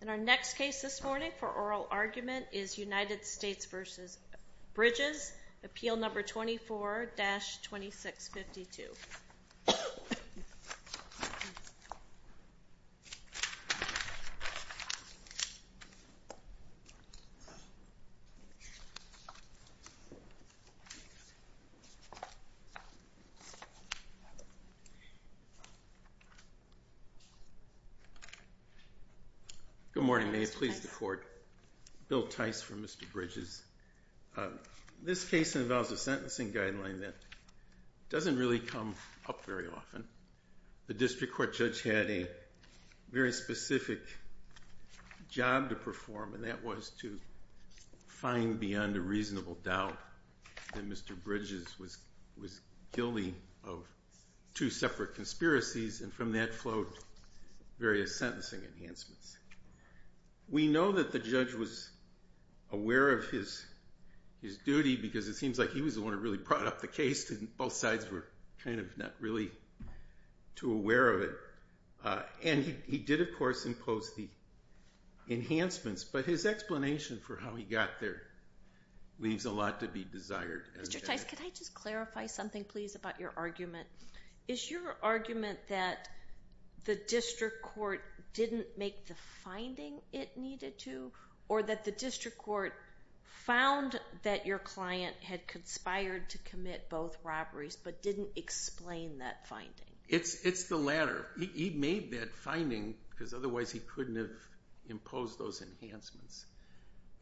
In our next case this morning for oral argument is United States v. Bridges, Appeal No. 24-2652. Good morning, may it please the court. Bill Tice for Mr. Bridges. This case involves a sentencing guideline that doesn't really come up very often. The district court judge had a very specific job to perform and that was to find beyond a reasonable doubt that Mr. Bridges was guilty of two separate conspiracies and from that flowed various sentencing enhancements. We know that the judge was aware of his duty because it seems like he was the one who really brought up the case and both sides were kind of not really too aware of it and he did of course impose the enhancements but his explanation for how he got there leaves a lot to be desired. Mr. Tice, could I just clarify something please about your argument? Is your argument that the district court didn't make the finding it needed to or that the district court found that your client had conspired to commit both robberies but didn't explain that finding? It's the latter. He made that finding because otherwise he couldn't have imposed those enhancements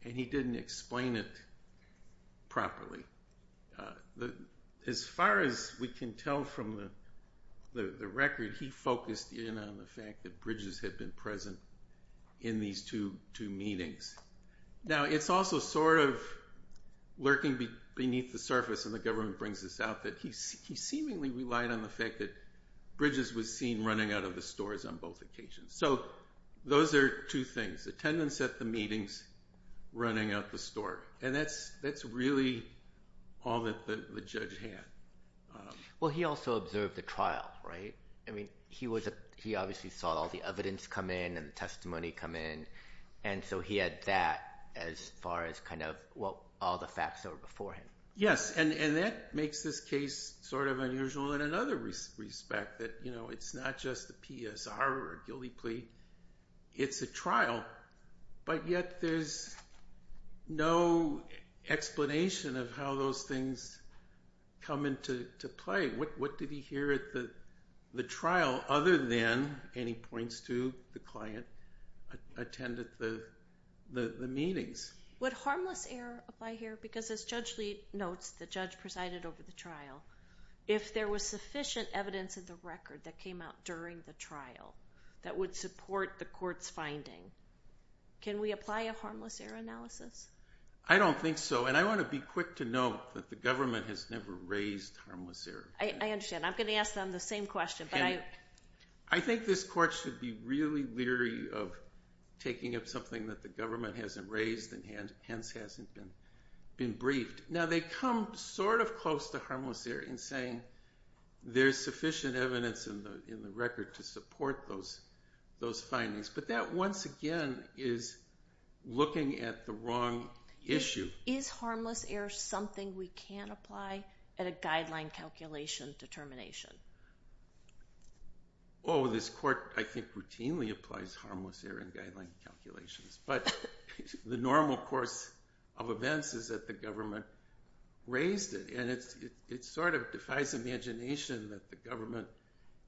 and he didn't explain it properly. As far as we can tell from the record, he focused in on the fact that Bridges had been present in these two meetings. Now it's also sort of lurking beneath the surface and the government brings this out that he seemingly relied on the fact that Bridges was seen running out of the stores on both occasions. So those are two things. Attendance at the meetings, running out the store and that's really all that the judge had. Well he also observed the trial, right? He obviously saw all the evidence come in and the testimony come in and so he had that as far as all the facts that were before him. Yes, and that makes this case sort of unusual in another respect that it's not just a PSR or a guilty plea, it's a trial. But yet there's no explanation of how those things come into play. What did he hear at the trial other than any points to the client attended the meetings? Would harmless error apply here? Because as Judge Lee notes, the judge presided over the trial. If there was sufficient evidence in the record that came out during the trial that would support the court's finding, can we apply a harmless error analysis? I don't think so and I want to be quick to note that the government has never raised harmless error. I understand. I'm going to ask them the same question. I think this court should be really leery of taking up something that the government hasn't raised and hence hasn't been briefed. Now they come sort of close to harmless error in saying there's sufficient evidence in the record to support those findings, but that once again is looking at the wrong issue. Is harmless error something we can apply at a guideline calculation determination? Oh, this court I think routinely applies harmless error in guideline calculations, but the normal course of events is that the government raised it and it sort of defies imagination that the government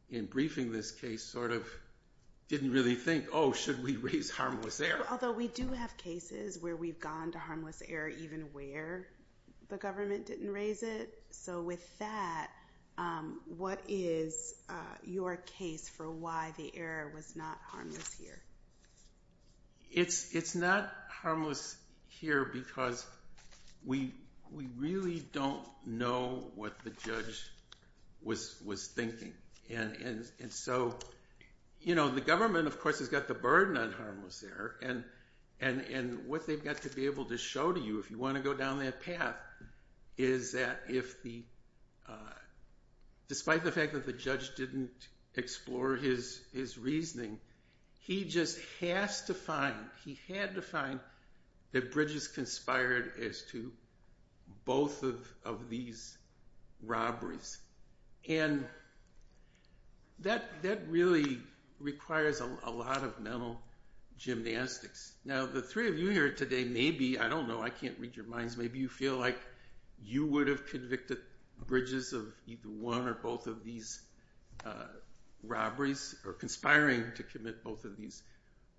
in briefing this case sort of didn't really think, oh, should we raise harmless error? Although we do have cases where we've gone to harmless error even where the government didn't raise it. So with that, what is your case for why the error was not harmless here? It's not harmless here because we really don't know what the judge was thinking. The government of course has got the burden on harmless error and what they've got to be able to show to you if you want to go down that path is that despite the fact that the judge didn't explore his reasoning, he just has to find, he had to find, that Bridges conspired as to both of these robberies. And that really requires a lot of mental gymnastics. Now the three of you here today maybe, I don't know, I can't read your minds, maybe you feel like you would have convicted Bridges of either one or both of these robberies or conspiring to commit both of these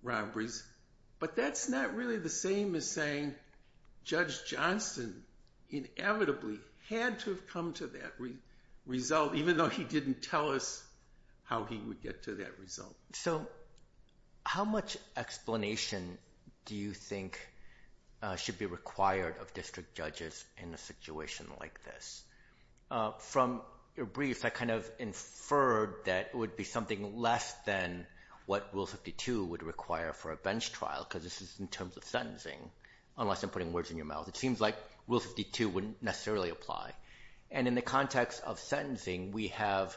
robberies, but that's not really the same as saying Judge Johnston inevitably had to have come to that result even though he didn't tell us how he would get to that result. So how much explanation do you think should be required of district judges in a situation like this? From your brief, I kind of inferred that it would be something less than what Rule 52 would require for a bench trial because this is in terms of sentencing, unless I'm putting words in your mouth. It seems like Rule 52 wouldn't necessarily apply. And in the context of sentencing, we have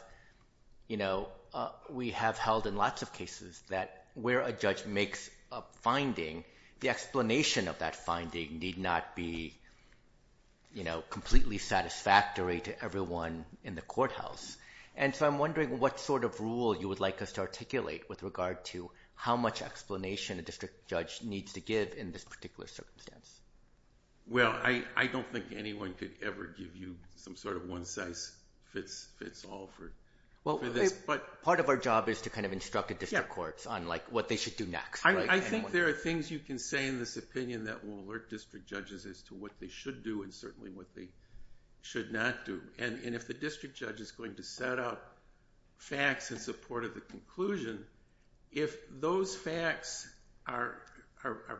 held in lots of cases that where a judge makes a finding, the explanation of that finding need not be completely satisfactory to everyone in the courthouse. And so I'm wondering what sort of rule you would like us to articulate with regard to how much explanation a district judge needs to give in this particular circumstance. Well, I don't think anyone could ever give you some sort of one-size-fits-all for this. Part of our job is to kind of instruct the district courts on what they should do next. I think there are things you can say in this opinion that will alert district judges as to what they should do and certainly what they should not do. And if the district judge is going to set up facts in support of the conclusion, if those facts are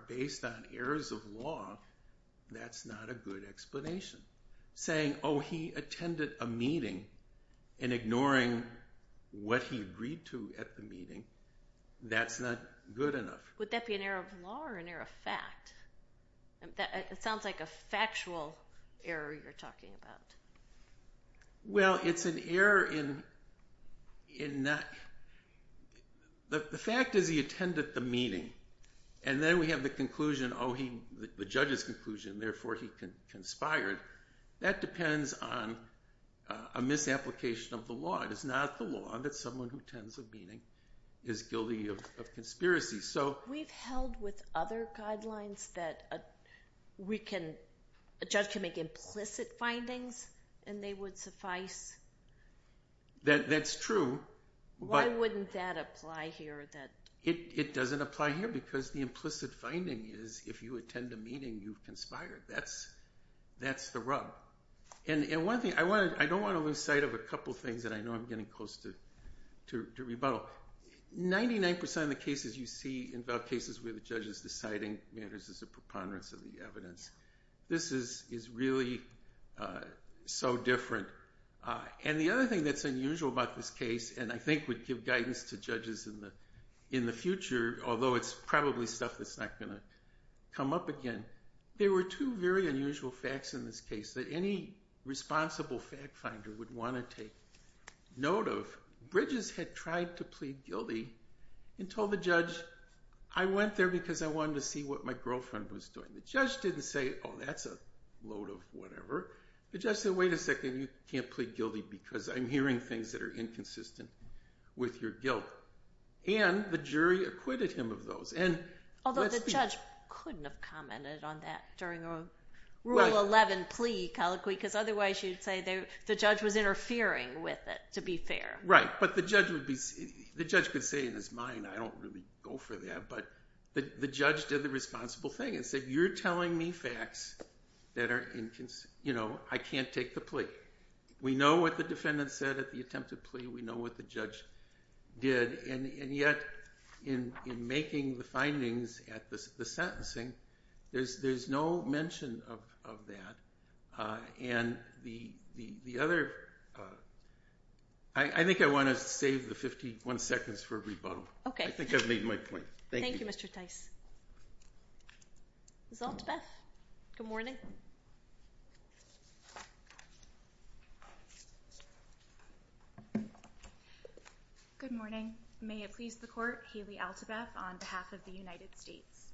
based on errors of law, that's not a good explanation. Saying, oh, he attended a meeting and ignoring what he agreed to at the meeting, that's not good enough. Would that be an error of law or an error of fact? It sounds like a factual error you're talking about. Well, it's an error in that the fact is he attended the meeting. And then we have the conclusion, oh, the judge's conclusion, therefore he conspired. That depends on a misapplication of the law. It is not the law that someone who attends a meeting is guilty of conspiracy. We've held with other guidelines that a judge can make implicit findings and they would suffice. That's true. Why wouldn't that apply here? It doesn't apply here because the implicit finding is if you attend a meeting, you conspired. That's the rub. And one thing, I don't want to lose sight of a couple things that I know I'm getting close to rebuttal. Well, 99% of the cases you see involve cases where the judge is deciding matters as a preponderance of the evidence. This is really so different. And the other thing that's unusual about this case, and I think would give guidance to judges in the future, although it's probably stuff that's not going to come up again, there were two very unusual facts in this case that any responsible fact finder would want to take note of. Bridges had tried to plead guilty and told the judge, I went there because I wanted to see what my girlfriend was doing. The judge didn't say, oh, that's a load of whatever. The judge said, wait a second, you can't plead guilty because I'm hearing things that are inconsistent with your guilt. And the jury acquitted him of those. Although the judge couldn't have commented on that during a Rule 11 plea colloquy because otherwise you'd say the judge was interfering with it, to be fair. Right. But the judge could say in his mind, I don't really go for that. But the judge did the responsible thing and said, you're telling me facts that are inconsistent. I can't take the plea. We know what the defendant said at the attempted plea. We know what the judge did. And yet in making the findings at the sentencing, there's no mention of that. And the other, I think I want to save the 51 seconds for rebuttal. Okay. I think I've made my point. Thank you, Mr. Tice. Ms. Altebeth, good morning. Good morning. May it please the court, Haley Altebeth on behalf of the United States.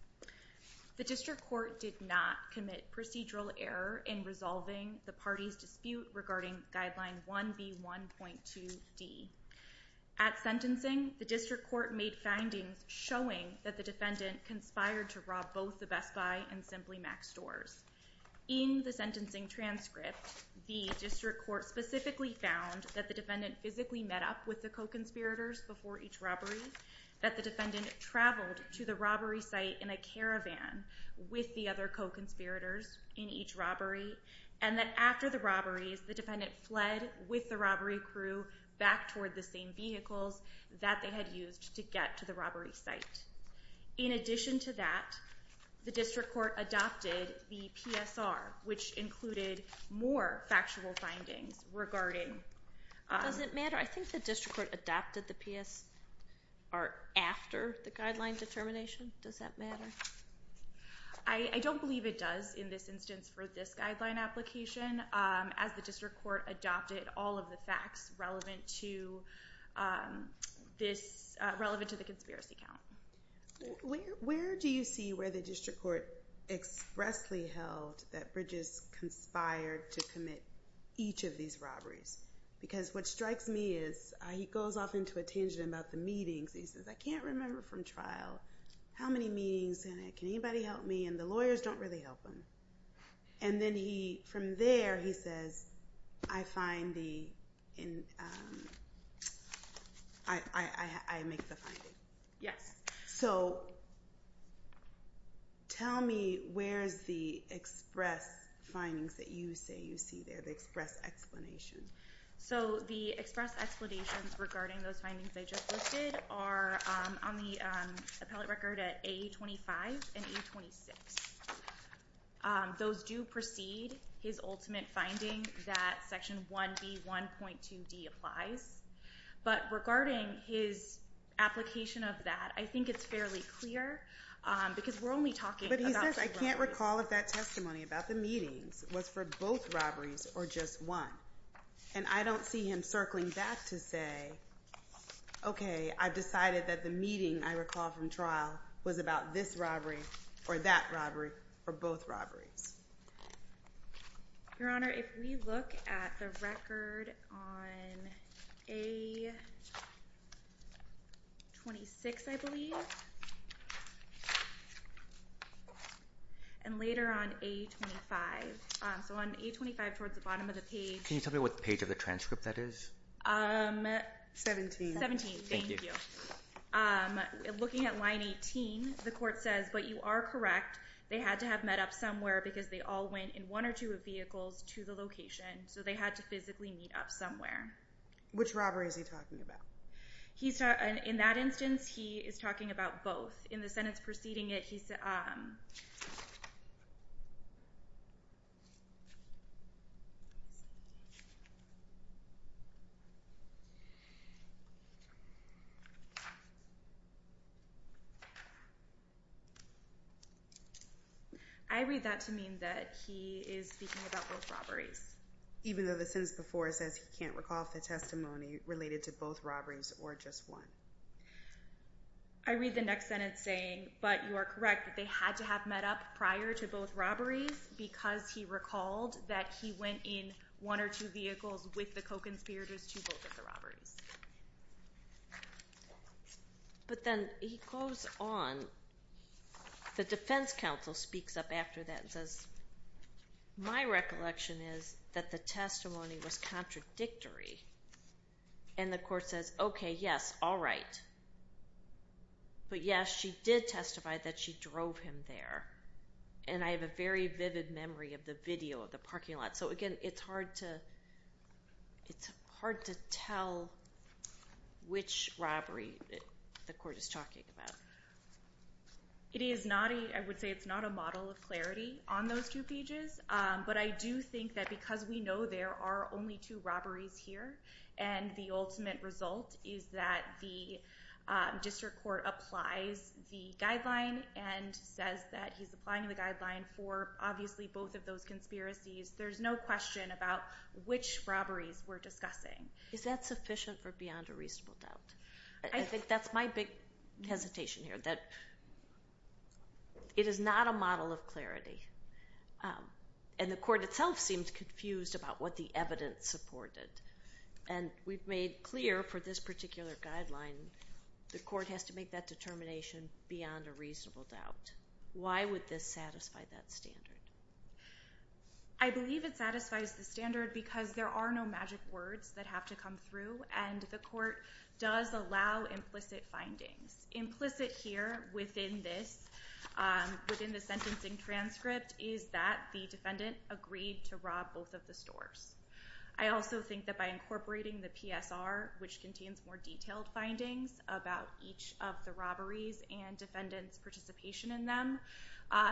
The district court did not commit procedural error in resolving the party's dispute regarding Guideline 1B1.2D. At sentencing, the district court made findings showing that the defendant conspired to rob both the Best Buy and Simply Max stores. In the sentencing transcript, the district court specifically found that the defendant physically met up with the co-conspirators before each robbery, that the defendant traveled to the robbery site in a caravan with the other co-conspirators in each robbery, and that after the robberies, the defendant fled with the robbery crew back toward the same vehicles that they had used to get to the robbery site. In addition to that, the district court adopted the PSR, which included more factual findings regarding... Does it matter? I think the district court adopted the PSR after the guideline determination. Does that matter? I don't believe it does in this instance for this guideline application as the district court adopted all of the facts relevant to the conspiracy count. Where do you see where the district court expressly held that Bridges conspired to commit each of these robberies? Because what strikes me is he goes off into a tangent about the meetings. He says, I can't remember from trial how many meetings. Can anybody help me? And the lawyers don't really help him. And then from there, he says, I make the finding. Yes. So tell me, where's the express findings that you say you see there, the express explanation? So the express explanations regarding those findings I just listed are on the appellate record at A25 and A26. Those do precede his ultimate finding that Section 1B1.2D applies. But regarding his application of that, I think it's fairly clear because we're only talking about the robberies. But he says, I can't recall if that testimony about the meetings was for both robberies or just one. And I don't see him circling back to say, OK, I've decided that the meeting I recall from trial was about this robbery or that robbery or both robberies. Your Honor, if we look at the record on A26, I believe, and later on A25. So on A25, towards the bottom of the page. Can you tell me what page of the transcript that is? 17. 17. Thank you. Looking at line 18, the court says, but you are correct. They had to have met up somewhere because they all went in one or two vehicles to the location. So they had to physically meet up somewhere. Which robbery is he talking about? In that instance, he is talking about both. In the sentence preceding it, he said, I read that to mean that he is speaking about both robberies. Even though the sentence before it says he can't recall if the testimony related to both robberies or just one. I read the next sentence saying, but you are correct. They had to have met up prior to both robberies because he recalled that he went in one or two vehicles with the co-conspirators to both of the robberies. But then he goes on. The defense counsel speaks up after that and says, my recollection is that the testimony was contradictory. And the court says, OK, yes, all right. But yes, she did testify that she drove him there. And I have a very vivid memory of the video of the parking lot. So again, it's hard to tell which robbery the court is talking about. It is not a model of clarity on those two pages. But I do think that because we know there are only two robberies here and the ultimate result is that the district court applies the guideline and says that he's applying the guideline for obviously both of those conspiracies, there's no question about which robberies we're discussing. Is that sufficient or beyond a reasonable doubt? I think that's my big hesitation here, that it is not a model of clarity. And the court itself seems confused about what the evidence supported. And we've made clear for this particular guideline, the court has to make that determination beyond a reasonable doubt. Why would this satisfy that standard? I believe it satisfies the standard because there are no magic words that have to come through and the court does allow implicit findings. Implicit here within this, within the sentencing transcript is that the defendant agreed to rob both of the stores. I also think that by incorporating the PSR, which contains more detailed findings about each of the robberies and defendant's participation in them,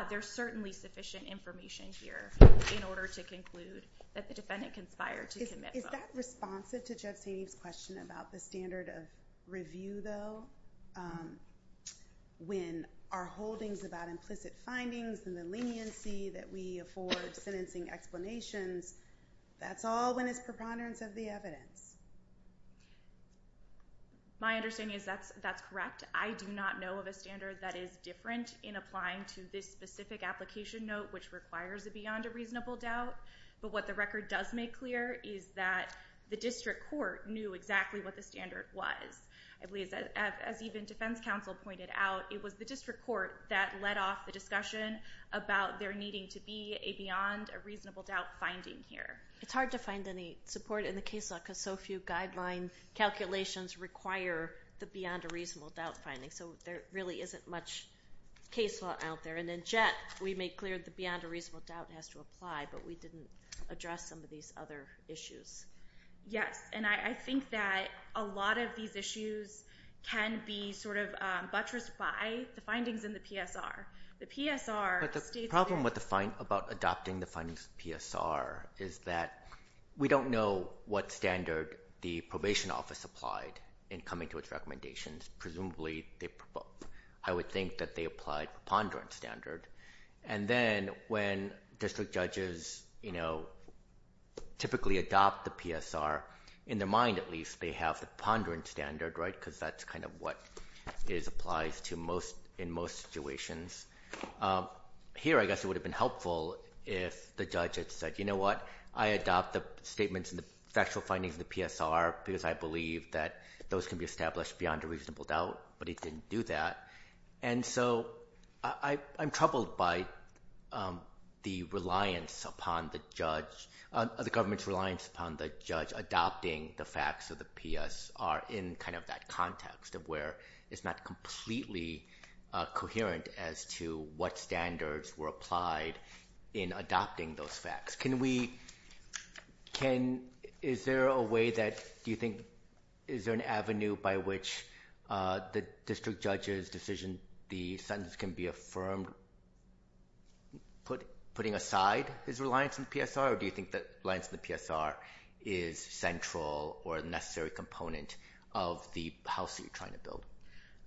there's certainly sufficient information here in order to conclude that the defendant conspired to commit both. Is that responsive to Jeff Saney's question about the standard of review though? When our holdings about implicit findings and the leniency that we afford sentencing explanations, that's all when it's preponderance of the evidence. My understanding is that's correct. I do not know of a standard that is different in applying to this specific application note which requires a beyond a reasonable doubt. But what the record does make clear is that the district court knew exactly what the standard was. I believe that as even defense counsel pointed out, it was the district court that led off the discussion about there needing to be a beyond a reasonable doubt finding here. It's hard to find any support in the case law because so few guideline calculations require the beyond a reasonable doubt finding. So there really isn't much case law out there. And then, Jeff, we made clear the beyond a reasonable doubt has to apply, but we didn't address some of these other issues. Yes. And I think that a lot of these issues can be sort of buttressed by the findings in the PSR. The PSR states that- But the problem about adopting the findings in the PSR is that we don't know what standard the probation office applied in coming to its recommendations. Presumably, they provoked. And then when district judges typically adopt the PSR, in their mind at least, they have the ponderance standard because that's kind of what it applies to in most situations. Here, I guess it would have been helpful if the judge had said, you know what, I adopt the statements and the factual findings of the PSR because I believe that those can be established beyond a reasonable doubt, but it didn't do that. And so, I'm troubled by the government's reliance upon the judge adopting the facts of the PSR in kind of that context of where it's not completely coherent as to what standards were applied in adopting those facts. Can we- Is there a way that- Do you think- Is there an avenue by which the district judge's decision, the sentence can be affirmed, putting aside his reliance on the PSR? Or do you think that reliance on the PSR is central or a necessary component of the house that you're trying to build?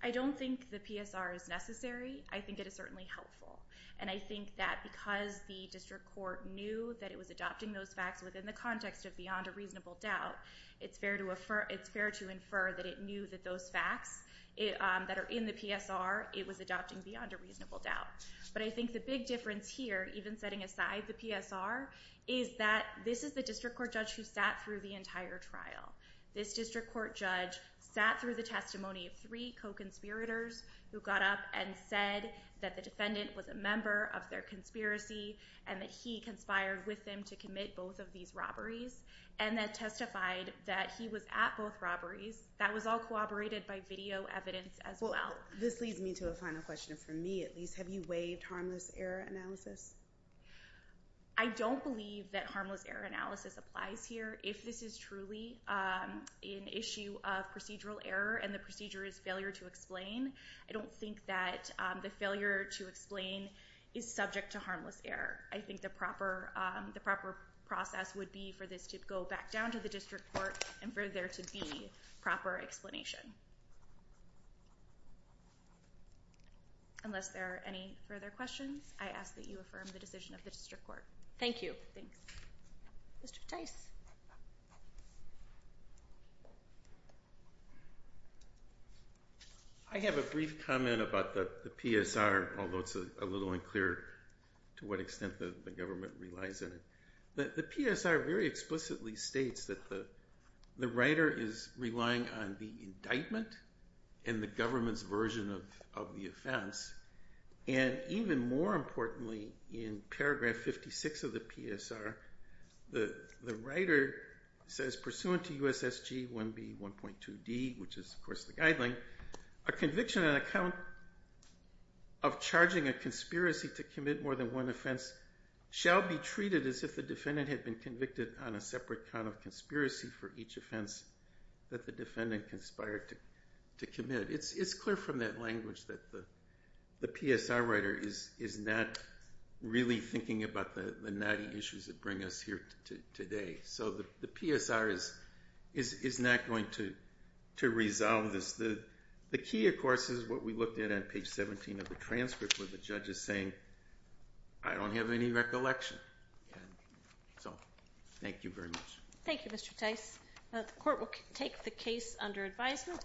I don't think the PSR is necessary. I think it is certainly helpful. And I think that because the district court knew that it was adopting those facts within the context of beyond a reasonable doubt, it's fair to infer that it knew that those facts that are in the PSR, it was adopting beyond a reasonable doubt. But I think the big difference here, even setting aside the PSR, is that this is the district court judge who sat through the entire trial. This district court judge sat through the testimony of three co-conspirators who got up and said that the defendant was a member of their conspiracy and that he conspired with them to commit both of these robberies and that testified that he was at both robberies. That was all corroborated by video evidence as well. Well, this leads me to a final question for me, at least. Have you waived harmless error analysis? I don't believe that harmless error analysis applies here. If this is truly an issue of procedural error and the procedure is failure to explain, I don't think that the failure to explain is subject to harmless error. I think the proper process would be for this to go back down to the district court and for there to be proper explanation. Unless there are any further questions, I ask that you affirm the decision of the district court. Thank you. Thanks. Mr. Tice? I have a brief comment about the PSR, although it's a little unclear to what extent the government relies on it. The PSR very explicitly states that the writer is relying on the indictment and the government's version of the offense. Even more importantly, in paragraph 56 of the PSR, the writer says, pursuant to U.S.S.G. 1B.1.2d, which is, of course, the guideline, a conviction on account of charging a conspiracy to commit more than one offense shall be treated as if the defendant had been convicted on a separate count of conspiracy for each offense that the defendant conspired to commit. It's clear from that language that the PSR writer is not really thinking about the knotty issues that bring us here today. So the PSR is not going to resolve this. The key, of course, is what we looked at on page 17 of the transcript where the judge is saying, I don't have any recollection. So thank you very much. Thank you, Mr. Tice. The court will take the case under advisement.